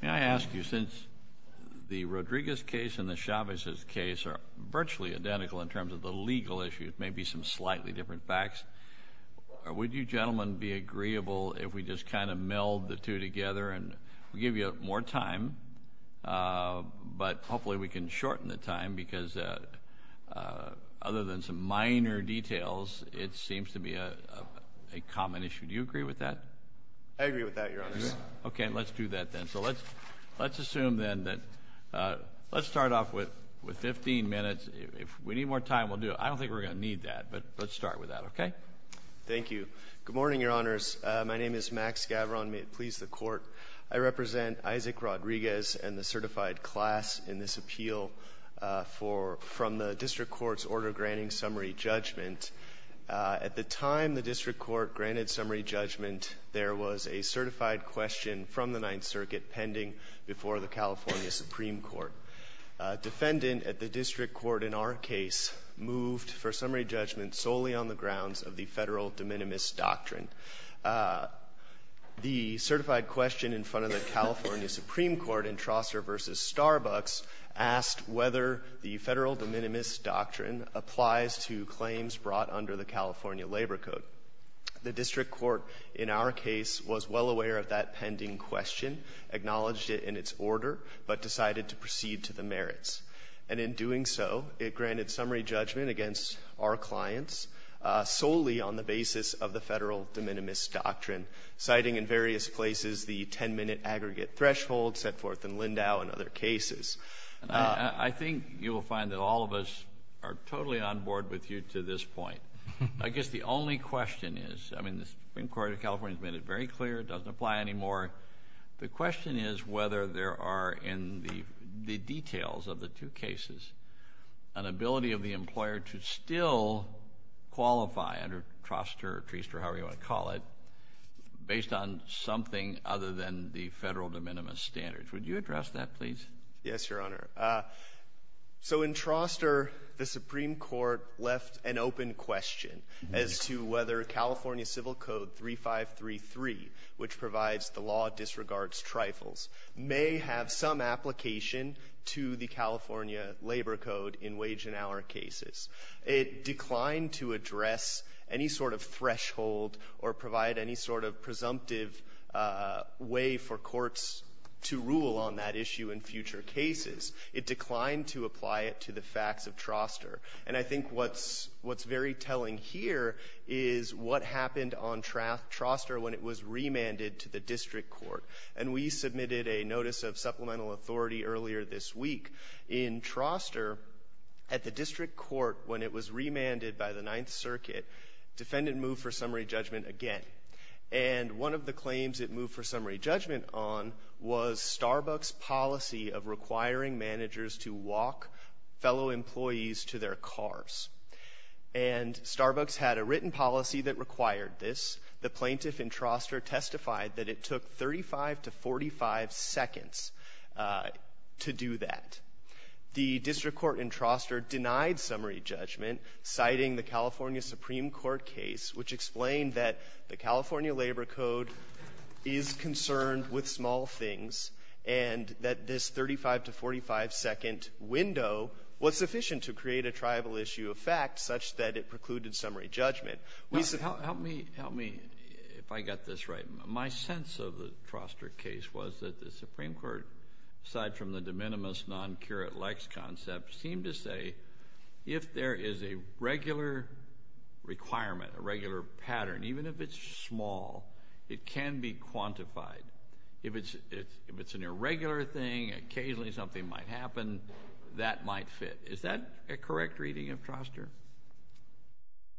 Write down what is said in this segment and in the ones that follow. May I ask you, since the Rodriguez case and the Chavez case are virtually identical in terms of the legal issues, maybe some slightly different facts, would you gentlemen be agreeable if we just kind of meld the two together and give you more time? But hopefully we can shorten the time because other than some minor details, it seems to be a common issue. Do you agree with that? I agree with that, Your Honors. Okay. Let's do that then. So let's assume then that, let's start off with 15 minutes. If we need more time, we'll do it. I don't think we're going to need that, but let's start with that, okay? Thank you. Good morning, Your Honors. My name is Max Gavron. May it please the Court, I represent Isaac Rodriguez and the certified class in this appeal from the District Court's order granting summary judgment. At the time the District Court granted summary judgment, there was a certified question from the Ninth Circuit pending before the California Supreme Court. A defendant at the District Court in our case moved for summary judgment solely on the grounds of the Federal de minimis doctrine. The certified question in front of the California Supreme Court in Trosser v. Starbucks asked whether the Federal de minimis doctrine applies to claims brought under the California Labor Code. The District Court in our case was well aware of that pending question, acknowledged it in its order, but decided to proceed to the merits. And in doing so, it granted summary judgment against our clients solely on the basis of the Federal de minimis doctrine, citing in various places the 10-minute aggregate threshold set forth in Lindau and other cases. I think you will find that all of us are totally on board with you to this point. I guess the only question is, I mean, the Supreme Court of California has made it very clear it doesn't apply anymore. The question is whether there are in the details of the two cases an ability of the employer to still qualify under Troster or Treaster, however you want to call it, based on something other than the Federal de minimis standards. Would you address that, please? Yes, Your Honor. So in Troster, the Supreme Court left an open question as to whether California Civil Code 3533, which provides the law disregards trifles, may have some application to the California Labor Code in wage and hour cases. It declined to address any sort of threshold or provide any sort of presumptive way for courts to rule on that issue in future cases. It declined to apply it to the facts of Troster. And I think what's very telling here is what happened on Troster when it was remanded to the district court. And we submitted a notice of supplemental authority earlier this week. In Troster, at the district court, when it was remanded by the Ninth Circuit, defendant moved for summary judgment again. And one of the claims it moved for summary judgment on was Starbucks' policy of requiring managers to walk fellow employees to their cars. And Starbucks had a written policy that required this. The plaintiff in Troster testified that it took 35 to 45 seconds to do that. The district court in Troster denied summary judgment, citing the California Supreme Court case, which explained that the California Labor Code is concerned with small things and that this 35 to 45 second window was sufficient to create a tribal issue of fact such that it precluded summary judgment. We submit to the district court. Help me, help me if I got this right. My sense of the Troster case was that the Supreme Court, aside from the de minimis non-curate lex concept, seemed to say if there is a regular requirement, a regular pattern, even if it's small, it can be quantified. If it's an irregular thing, occasionally something might happen, that might fit. Is that a correct reading of Troster?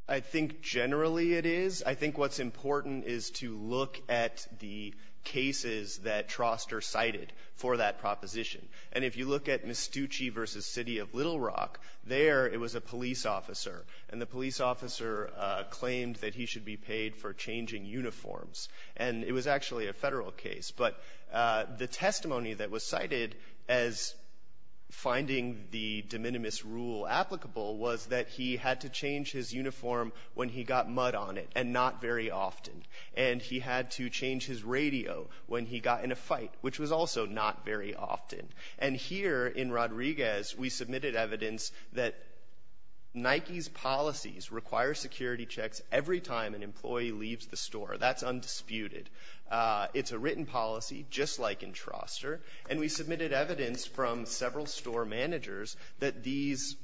I think generally it is. I think what's important is to look at the cases that Troster cited for that proposition. And if you look at Mastucci v. City of Little Rock, there it was a police officer. And the police officer claimed that he should be paid for changing uniforms. And it was actually a Federal case. But the testimony that was cited as finding the de minimis rule applicable was that he had to change his uniform when he got mud on it, and not very often. And he had to change his radio when he got in a fight, which was also not very often. And here in Rodriguez, we submitted evidence that Nike's policies require security checks every time an employee leaves the store. That's undisputed. It's a written policy, just like in Troster. And we submitted evidence from several store managers that these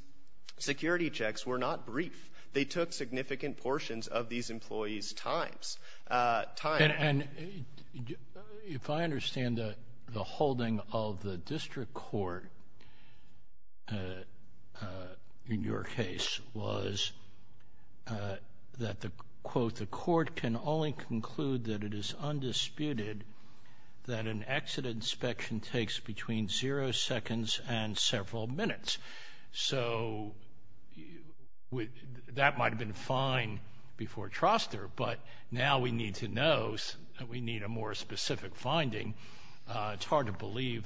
security checks were not brief. They took significant portions of these employees' times. And if I understand, the holding of the district court in your case was that the quote, the court can only conclude that it is undisputed that an exit inspection takes between zero seconds and several minutes. So that might have been fine before Troster, but now we need to know, we need a more specific finding. It's hard to believe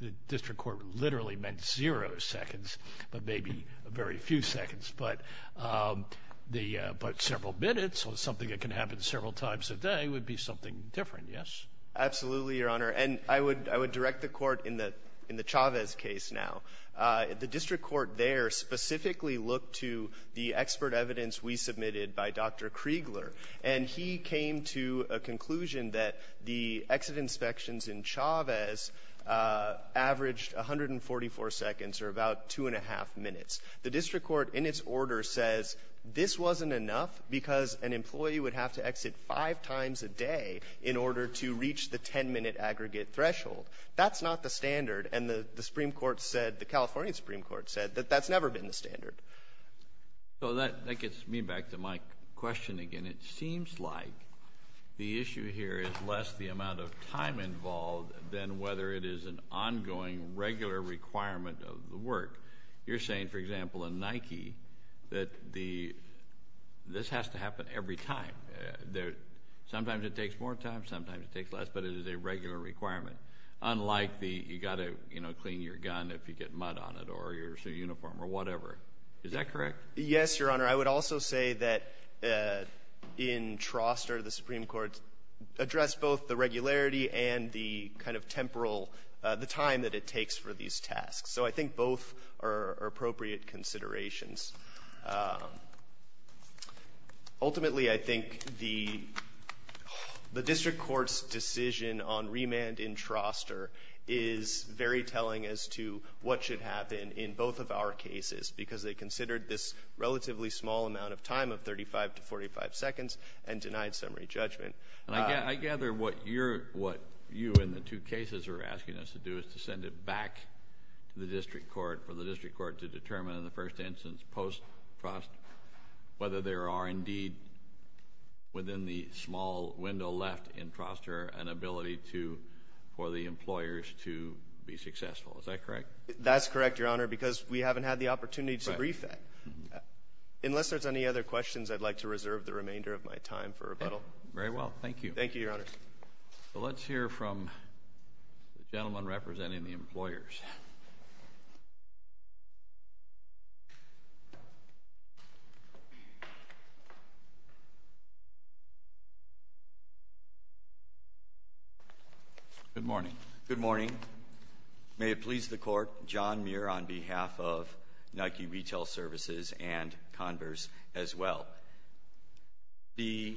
the district court literally meant zero seconds, but maybe a very few seconds. But several minutes or something that can happen several times a day would be something different, yes? Absolutely, Your Honor. And I would direct the court in the Chavez case now. The district court there specifically looked to the expert evidence we submitted by Dr. Kriegler. And he came to a conclusion that the exit inspections in Chavez averaged 144 seconds or about two and a half minutes. The district court in its order says this wasn't enough because an employee would have to exit five times a day in order to reach the 10-minute aggregate threshold. That's not the standard, and the Supreme Court said, the California Supreme Court said, that that's never been the standard. So that gets me back to my question again. It seems like the issue here is less the amount of time involved than whether it is an ongoing, regular requirement of the work. You're saying, for example, in Nike, that this has to happen every time. Sometimes it takes more time, sometimes it takes less, but it is a regular requirement. Unlike the, you gotta clean your gun if you get mud on it, or your uniform, or whatever. Is that correct? Yes, Your Honor. I would also say that in Troster, the Supreme Court addressed both the regularity and the kind of temporal, the time that it takes for these tasks. So I think both are appropriate considerations. Ultimately, I think the district court's decision on remand in Troster is very telling as to what should happen in both of our cases. Because they considered this relatively small amount of time of 35 to 45 seconds and denied summary judgment. And I gather what you and the two cases are asking us to do is to send it back to the district court for the district court to determine in the first instance post-Trost whether there are indeed within the small window left in Troster an ability to, for the employers to be successful. Is that correct? That's correct, Your Honor, because we haven't had the opportunity to brief that. Unless there's any other questions, I'd like to reserve the remainder of my time for rebuttal. Very well, thank you. Thank you, Your Honor. So let's hear from the gentleman representing the employers. Good morning. Good morning. May it please the Court, John Muir on behalf of Nike Retail Services and Converse as well. The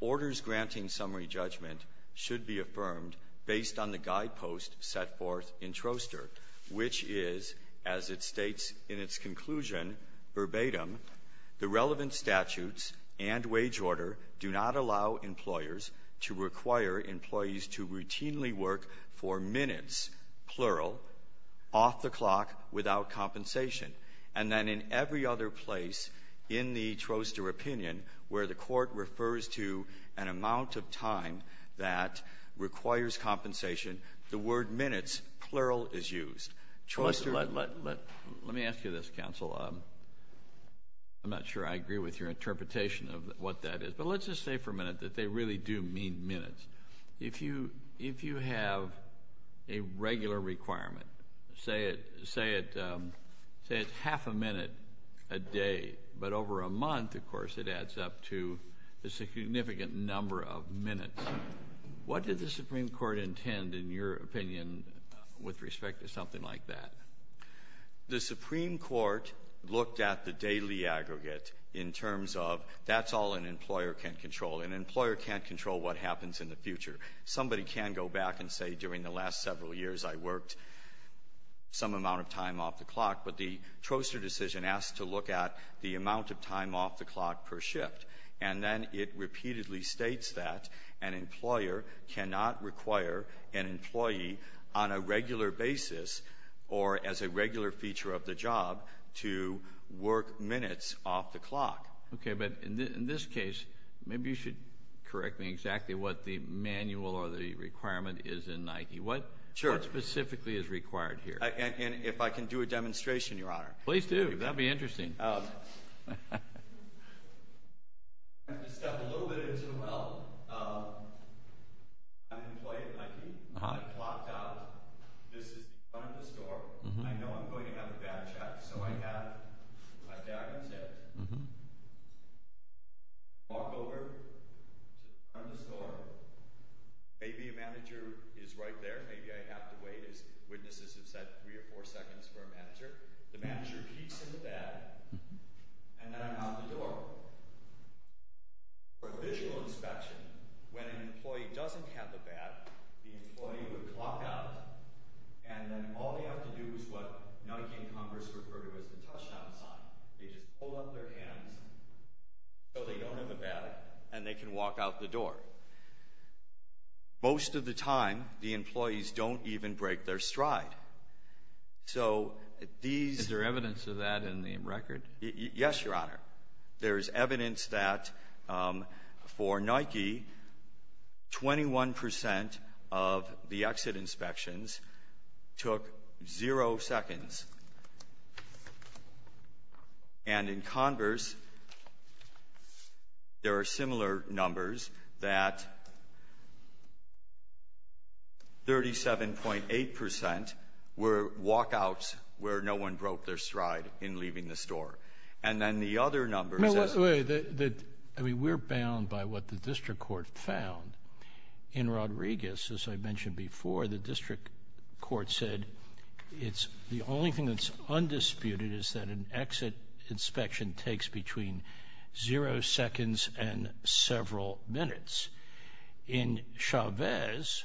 orders granting summary judgment should be affirmed based on the guidepost set forth in Troster, which is, as it states in its conclusion, verbatim, the relevant statutes and wage order do not allow employers to require employees to routinely work for minutes, plural, off the clock, without compensation. And then in every other place in the Troster opinion where the Court refers to an amount of time that requires compensation, the word minutes, plural, is used. Let me ask you this, counsel. I'm not sure I agree with your interpretation of what that is. But let's just say for a minute that they really do mean minutes. If you have a regular requirement, say it's half a minute a day, but over a month, of course, it adds up to a significant number of minutes. What did the Supreme Court intend, in your opinion, with respect to something like that? The Supreme Court looked at the daily aggregate in terms of that's all an employer can control. An employer can't control what happens in the future. Somebody can go back and say during the last several years I worked some amount of time off the clock. But the Troster decision asked to look at the amount of time off the clock per shift. And then it repeatedly states that an employer cannot require an employee on a regular basis or as a regular feature of the job to work minutes off the clock. Okay. But in this case, maybe you should correct me exactly what the manual or the requirement is in 90. Sure. What specifically is required here? And if I can do a demonstration, Your Honor. Please do. That'd be interesting. I have to step a little bit into the well. I'm an employer at Nike. I clocked out. This is in front of the store. I know I'm going to have a bad chat, so I have my back against it. I walk over to the front of the store. And I'm looking at their schedule. I'm looking at my schedule. And I'm looking at my schedule. And I'm looking at my schedule. And I have three or four seconds for a manager. The manager peeks in the bag. And then I'm out the door. For a visual inspection, when an employee doesn't have a bag, the employee would clock out. And then all they have to do is what Nike and Congress refer to as the touchdown sign. They just hold up their hands so they don't have a bag. And they can walk out the door. Most of the time, the employees don't even break their stride. So these... Is there evidence of that in the record? Yes, your honor. There's evidence that for Nike, 21% of the exit inspections took zero seconds. And in Converse, there are similar numbers that 37.8% were walkouts where no one broke their stride in leaving the store. And then the other numbers... In Rodriguez, as I mentioned before, the district court said it's the only thing that's undisputed is that an exit inspection takes between zero seconds and several minutes. In Chavez,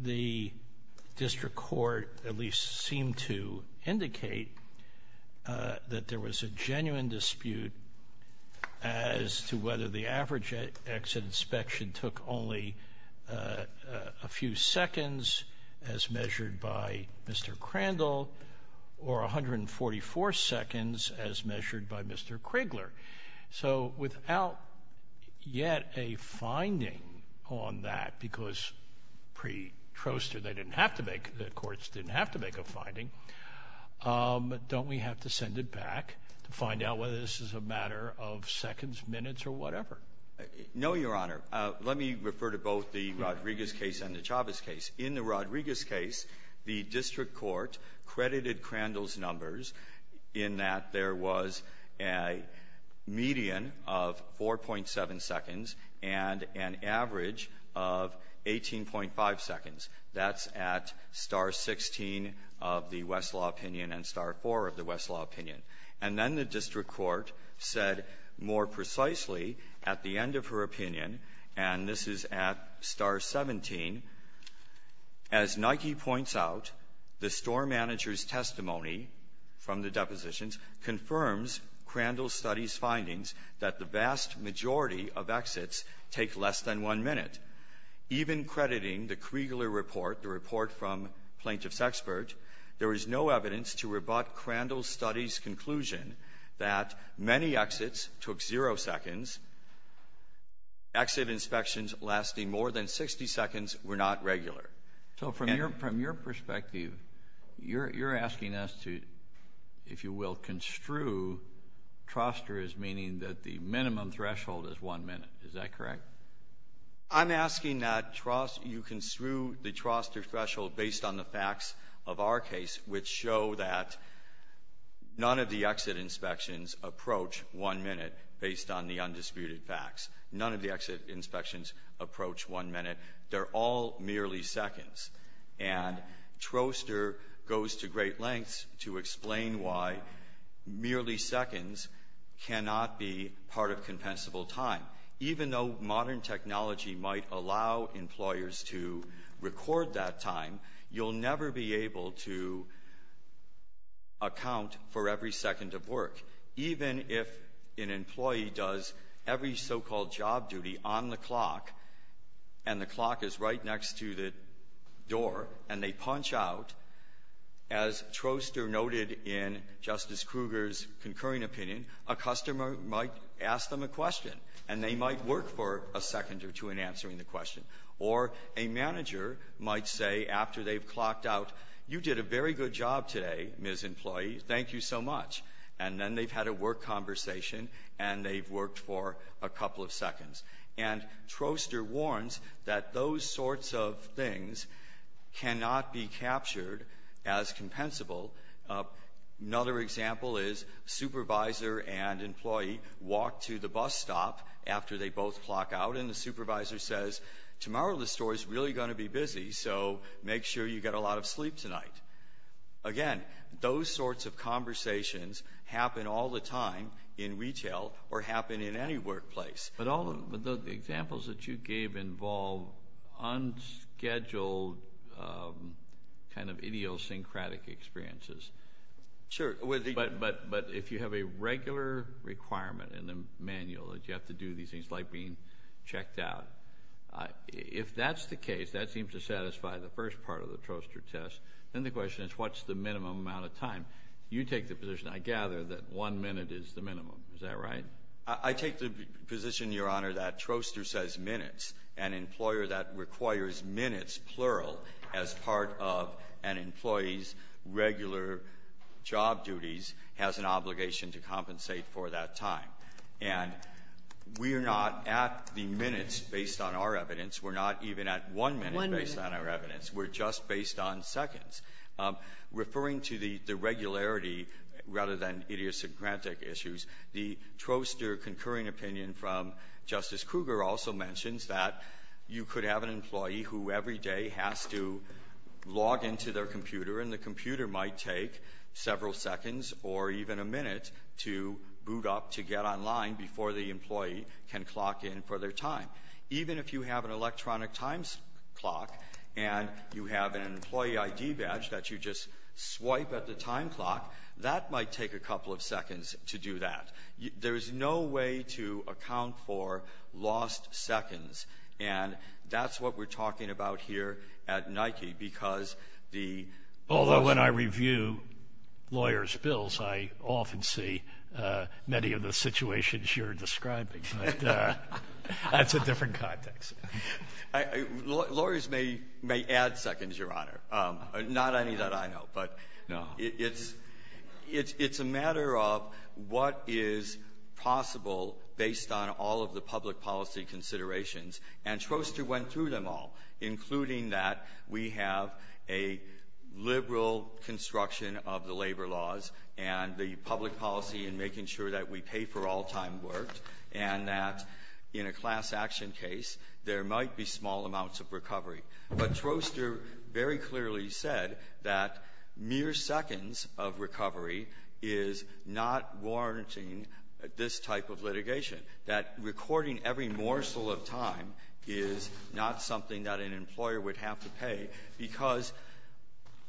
the district court at least seemed to indicate that there was a genuine dispute as to whether the average exit inspection took only a few seconds, as measured by Mr. Crandall, or 144 seconds, as measured by Mr. Crigler. So without yet a finding on that, because pre-Troster they didn't have to make, the courts didn't have to make a finding, don't we have to send it back to find out whether this is a matter of seconds, minutes, or whatever? No, your honor. Let me refer to both the Rodriguez case and the Chavez case. In the Rodriguez case, the district court credited Crandall's numbers in that there was a median of 4.7 seconds and an average of 18.5 seconds. That's at star 16 of the Westlaw opinion and star 4 of the Westlaw opinion. And then the district court said more precisely at the end of her opinion, and this is at star 17, as Nike points out, the store manager's testimony from the depositions confirms Crandall's study's findings that the vast majority of exits take less than one minute. Even crediting the Crigler report, the report from Plaintiff's no evidence to rebut Crandall's study's conclusion that many exits took zero seconds. Exit inspections lasting more than 60 seconds were not regular. So from your perspective, you're asking us to, if you will, construe Troster as meaning that the minimum threshold is one minute. Is that correct? I'm asking that you construe the Troster threshold based on the facts of our case, which show that none of the exit inspections approach one minute based on the undisputed facts. None of the exit inspections approach one minute. They're all merely seconds. And Troster goes to great lengths to explain why merely seconds cannot be part of modern technology might allow employers to record that time. You'll never be able to account for every second of work. Even if an employee does every so-called job duty on the clock, and the clock is right next to the door, and they punch out, as Troster noted in Justice Kruger's concurring opinion, a customer might ask them a question, and they might work for a second or two in answering the question. Or a manager might say, after they've clocked out, you did a very good job today, Ms. Employee. Thank you so much. And then they've had a work conversation, and they've worked for a couple of seconds. And Troster warns that those sorts of things cannot be captured as compensable. Another example is supervisor and employee walk to the bus stop after they both clock out, and the supervisor says, tomorrow the store is really going to be busy, so make sure you get a lot of sleep tonight. Again, those sorts of conversations happen all the time in retail or happen in any workplace. But all of the examples that you gave involve unscheduled, kind of idiosyncratic experiences. Sure. But if you have a regular requirement in the manual that you have to do these things, like being checked out, if that's the case, that seems to satisfy the first part of the Troster test, then the question is, what's the minimum amount of time? You take the position, I gather, that one minute is the minimum. Is that right? I take the position, Your Honor, that Troster says minutes. An employer that requires minutes, plural, as part of an employee's regular job duties has an obligation to compensate for that time. And we are not at the minutes based on our evidence. We're not even at one minute based on our evidence. We're just based on seconds. Referring to the regularity rather than idiosyncratic issues, the Troster concurring opinion from Justice Kruger also mentions that you could have an employee who every day has to log into their computer, and the computer might take several seconds or even a minute to boot up to get online before the employee can clock in for their time. Even if you have an electronic time clock and you have an employee ID badge that you just swipe at the time clock, that might take a couple of seconds to do that. There is no way to account for lost seconds. And that's what we're talking about here at Nike, because the lawyer's ---- Although when I review lawyers' bills, I often see many of the situations you're describing, but that's a different context. Lawyers may add seconds, Your Honor, not any that I know, but it's a matter of time and a matter of what is possible based on all of the public policy considerations. And Troster went through them all, including that we have a liberal construction of the labor laws and the public policy in making sure that we pay for all time worked, and that in a class action case, there might be small amounts of recovery. But Troster very clearly said that mere seconds of recovery is not warranting this type of litigation, that recording every morsel of time is not something that an employer would have to pay, because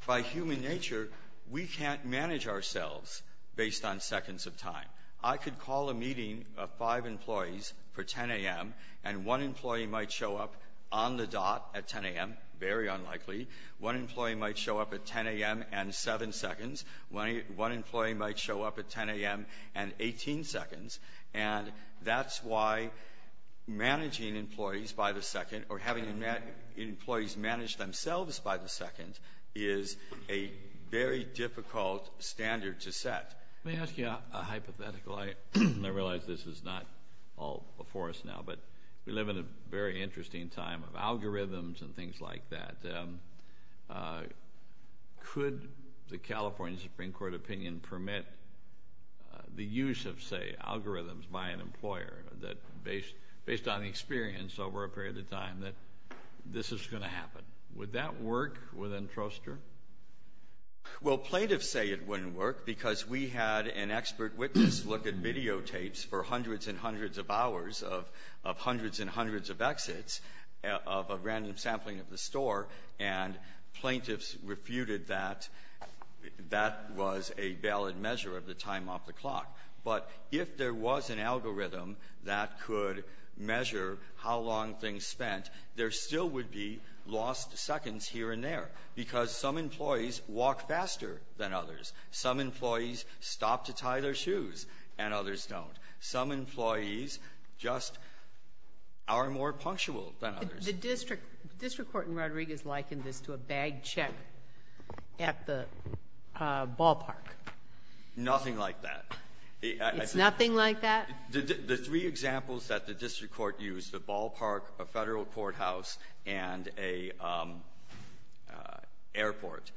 by human nature, we can't manage ourselves based on seconds of time. I could call a meeting of five employees for 10 a.m., and one employee might show up on the dot at 10 a.m., very unlikely. One employee might show up at 10 a.m. and seven seconds. One employee might show up at 10 a.m. and 18 seconds. And that's why managing employees by the second or having employees manage themselves by the second is a very difficult standard to set. Let me ask you a hypothetical. I realize this is not all before us now, but we live in a very interesting time of algorithms and things like that. Could the California Supreme Court opinion permit the use of, say, algorithms by an employer that based on experience over a period of time, that this is going to happen? Would that work within Troster? Well, plaintiffs say it wouldn't work because we had an expert witness look at videotapes for hundreds and hundreds of hours of hundreds and hundreds of exits of a random sampling of the store, and plaintiffs refuted that. That was a valid measure of the time off the clock. But if there was an algorithm that could measure how long things spent, there still would be lost seconds here and there, because some employees walk faster than others. Some employees stop to tie their shoes, and others don't. Some employees just are more punctual than others. The district court in Rodriguez likened this to a bag check at the ballpark. Nothing like that. It's nothing like that? The three examples that the district court used, the ballpark, a Federal courthouse, and a airport,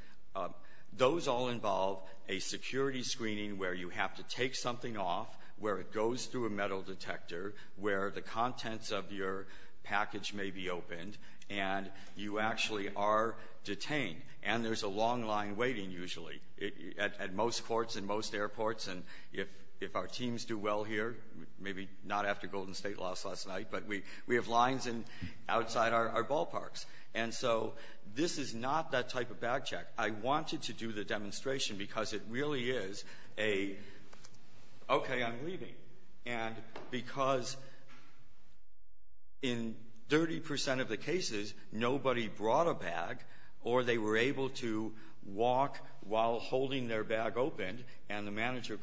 those all involve a security screening where you have to take something off, where it goes through a metal detector, where the contents of your package may be opened, and you actually are detained. And there's a long line waiting, usually, at most courts and most airports. And if our teams do well here, maybe not after Golden State lost last night, but we have lines outside our ballparks. And so this is not that type of bag check. I wanted to do the demonstration because it really is a, okay, I'm leaving. And because in 30 percent of the cases, nobody brought a bag, or they were able to walk while you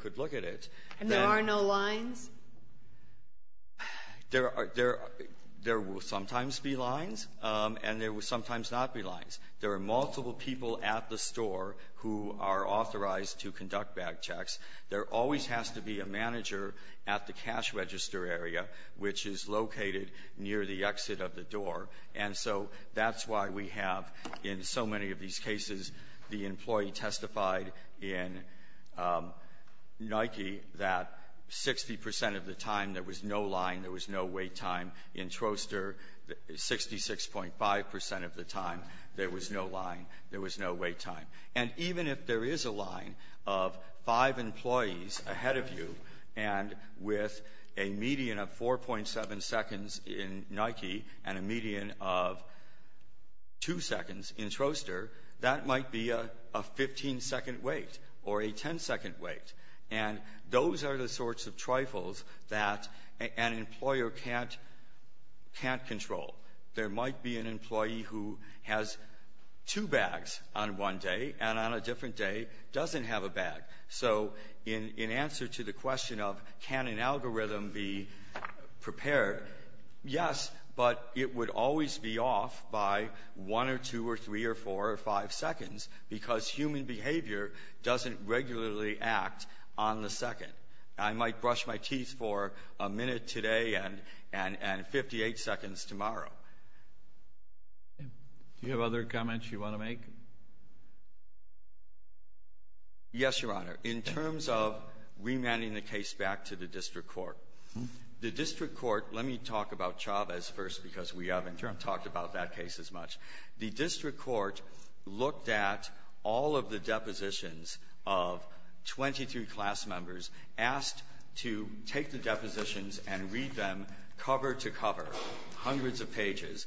could look at it. And there are no lines? There are – there will sometimes be lines, and there will sometimes not be lines. There are multiple people at the store who are authorized to conduct bag checks. There always has to be a manager at the cash register area, which is located near the exit of the door. And so that's why we have, in so many of these cases, the employee testified in Nike that 60 percent of the time, there was no line, there was no wait time. In Troster, 66.5 percent of the time, there was no line, there was no wait time. And even if there is a line of five employees ahead of you, and with a median of 4.7 second wait, or a 10-second wait, and those are the sorts of trifles that an employer can't – can't control. There might be an employee who has two bags on one day, and on a different day, doesn't have a bag. So in answer to the question of can an algorithm be prepared, yes, but it would always be off by 1 or 2 or 3 or 4 or 5 seconds, because human behavior doesn't regularly act on the second. I might brush my teeth for a minute today and 58 seconds tomorrow. Do you have other comments you want to make? Yes, Your Honor. In terms of remanding the case back to the district court, the district court – let me talk about Chavez first, because we haven't talked about that case as much. The district court looked at all of the depositions of 23 class members, asked to take the depositions and read them cover to cover, hundreds of pages,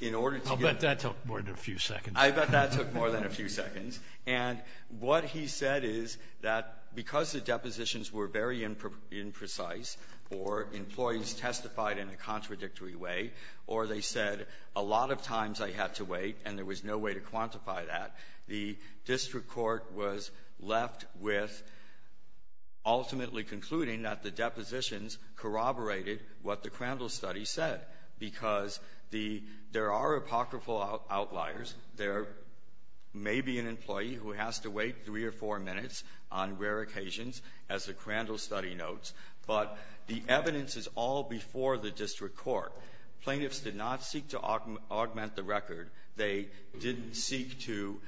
in order to get the – I'll bet that took more than a few seconds. I bet that took more than a few seconds. And what he said is that because the depositions were very imprecise, or employees testified in a contradictory way, or they said a lot of times I had to wait and there was no way to quantify that, the district court was left with ultimately concluding that the depositions corroborated what the Crandall study said, because the – there are apocryphal outliers. There may be an employee who has to wait three or four minutes on rare occasions, as the Crandall study notes, but the evidence is all before the district court. Plaintiffs did not seek to augment the record. They didn't seek to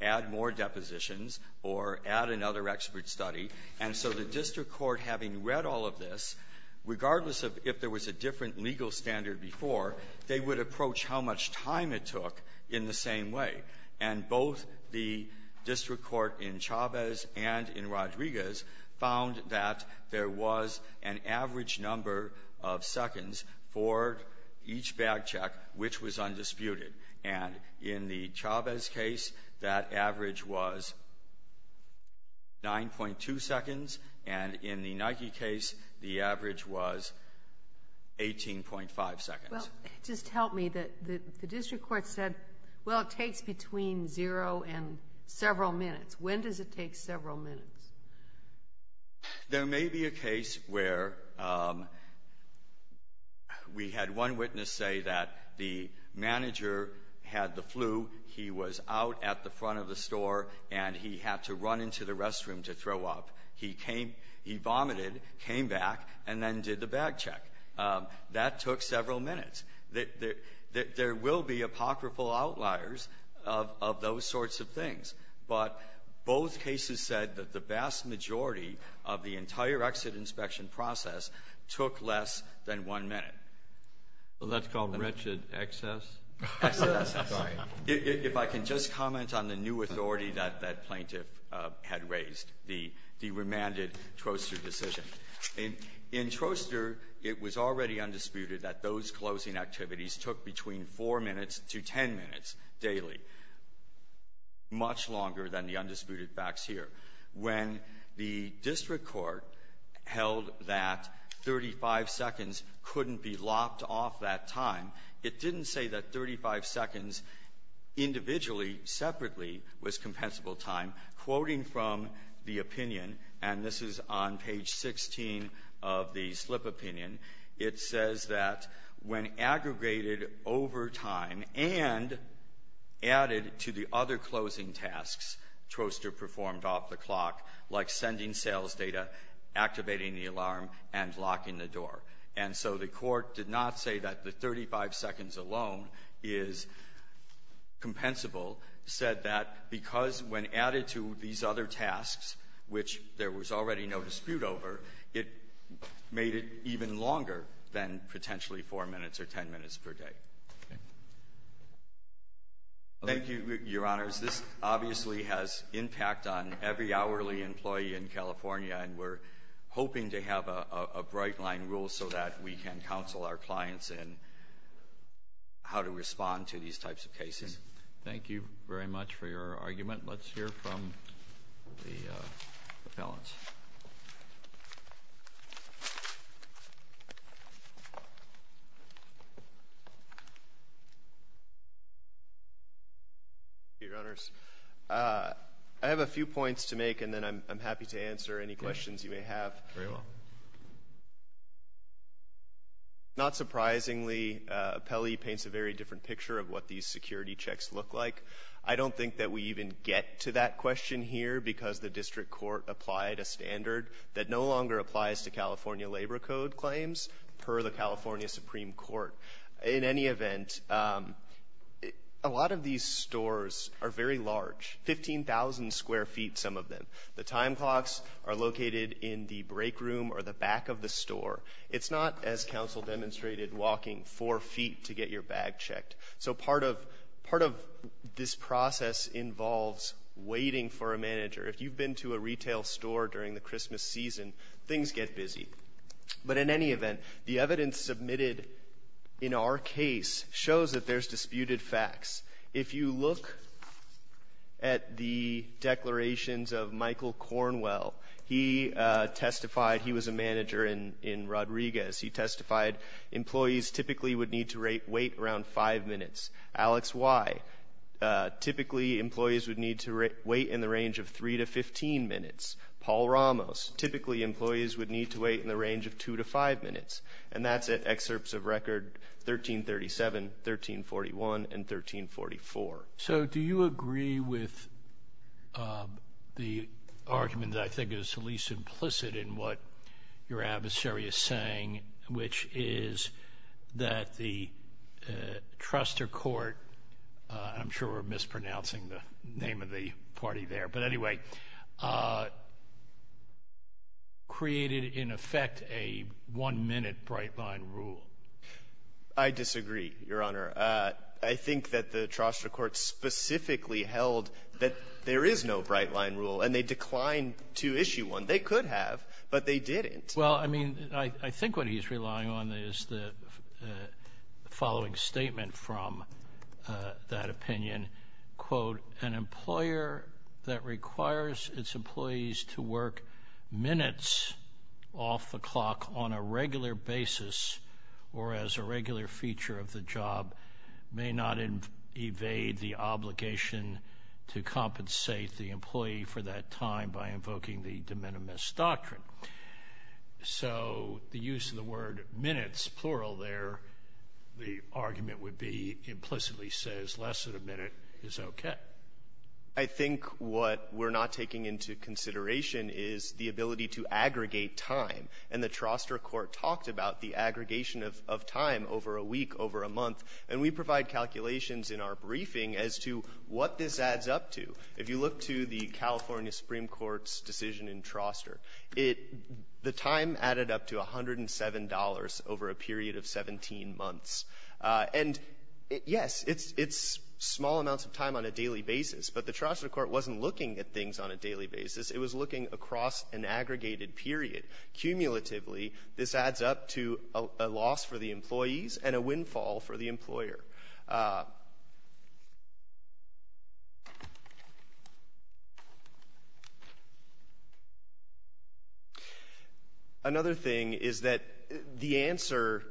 add more depositions or add another expert study. And so the district court, having read all of this, regardless of if there was a different legal standard before, they would approach how much time it took in the same way. And both the district court in Chavez and in Rodriguez found that there was an average number of seconds for each bag check which was undisputed. And in the Chavez case, that average was 9.2 seconds, and in the Nike case, the average was 18.5 seconds. Well, just help me. The district court said, well, it takes between zero and several minutes. When does it take several minutes? There may be a case where we had one witness say that the manager had the flu. He was out at the front of the store and he had to run into the restroom to throw up. He came – he vomited, came back, and then did the bag check. That took several minutes. There will be apocryphal outliers of those sorts of things. But both cases said that the vast majority of the entire exit inspection process took less than one minute. Well, that's called wretched excess? Excess. If I can just comment on the new authority that that plaintiff had raised, the remanded Troaster decision. In Troaster, it was already undisputed that those closing activities took between four minutes to ten minutes daily, much longer than the undisputed facts here. When the district court held that 35 seconds couldn't be lopped off that time, it didn't say that 35 seconds individually, separately, was compensable time. Quoting from the opinion, and this is on page 16 of the slip opinion, it says that when aggregated over time and added to the other closing tasks Troaster performed off the clock, like sending sales data, activating the alarm, and locking the door. And so the court did not say that the 35 seconds alone is compensable, said that because when added to these other tasks, which there was already no dispute over, it made it even longer than potentially four minutes or ten minutes per day. Thank you, Your Honors. This obviously has impact on every hourly employee in California, and we're hoping to have a bright-line rule so that we can counsel our clients in how to respond to these types of cases. Thank you very much for your argument. Let's hear from the appellants. Your Honors, I have a few points to make, and then I'm happy to answer any questions you may have. Very well. Not surprisingly, Pelley paints a very different picture of what these security checks look like. I don't think that we even get to that question here because the district court applied a standard that no longer applies to California labor code claims per the California Supreme Court. In any event, a lot of these stores are very large, 15,000 square feet, some of them. The time clocks are located in the break room or the back of the store. It's not, as counsel demonstrated, walking four feet to get your bag checked. So part of this process involves waiting for a manager. If you've been to a retail store during the Christmas season, things get busy. But in any event, the evidence submitted in our case shows that there's disputed facts. If you look at the declarations of Michael Cornwell, he testified he was a manager in Rodriguez. He testified employees typically would need to wait around five minutes. Alex Y, typically employees would need to wait in the range of three to 15 minutes. Paul Ramos, typically employees would need to wait in the range of two to five minutes. And that's at excerpts of record 1337, 1341, and 1344. So do you agree with the argument that I think is the least implicit in what your adversary is saying, which is that the trustor court, I'm sure we're mispronouncing the name of the party there, but anyway, created, in effect, a one-minute bright-line rule? I disagree, Your Honor. I think that the trustor court specifically held that there is no bright-line rule, and they declined to issue one. They could have, but they didn't. Well, I mean, I think what he's relying on is the following statement from that opinion, quote, an employer that requires its employees to work minutes off the clock on a regular basis or as a regular feature of the job may not evade the obligation to compensate the employee for that time by invoking the de minimis doctrine. So the use of the word minutes, plural there, the argument would be implicitly says less than a minute is okay. I think what we're not taking into consideration is the ability to aggregate time, and the trustor court talked about the aggregation of time over a week, over a month. And we provide calculations in our briefing as to what this adds up to. If you look to the California Supreme Court's decision in Trustor, it the time added up to $107 over a period of 17 months. And, yes, it's small amounts of time on a daily basis, but the trustor court wasn't looking at things on a daily basis. It was looking across an aggregated period. Cumulatively, this adds up to a loss for the employees and a windfall for the employer. Another thing is that the answer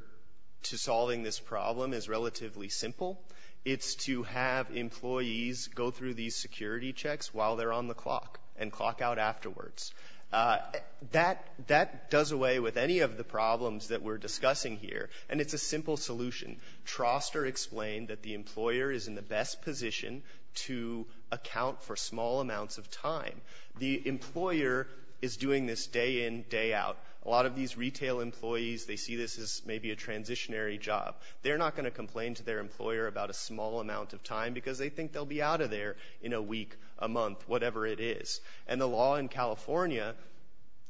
to solving this problem is that the employer answer to solving this problem is relatively simple. It's to have employees go through these security checks while they're on the clock and clock out afterwards. That does away with any of the problems that we're discussing here, and it's a simple solution. Trustor explained that the employer is in the best position to account for small amounts of time. The employer is doing this day in, day out. A lot of these retail employees, they see this as maybe a transitionary job. They're not going to complain to their employer about a small amount of time because they think they'll be out of there in a week, a month, whatever it is. And the law in California,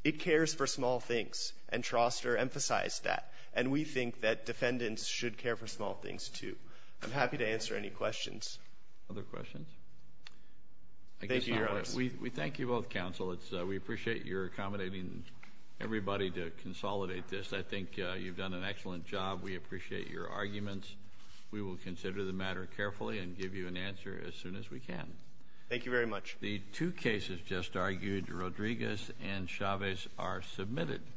it cares for small things, and Trustor emphasized that. And we think that defendants should care for small things, too. I'm happy to answer any questions. Other questions? Thank you, Your Honors. We thank you both, counsel. We appreciate your accommodating everybody to consolidate this. I think you've done an excellent job. We appreciate your arguments. We will consider the matter carefully and give you an answer as soon as we can. Thank you very much. The two cases just argued, Rodriguez and Chavez, are submitted.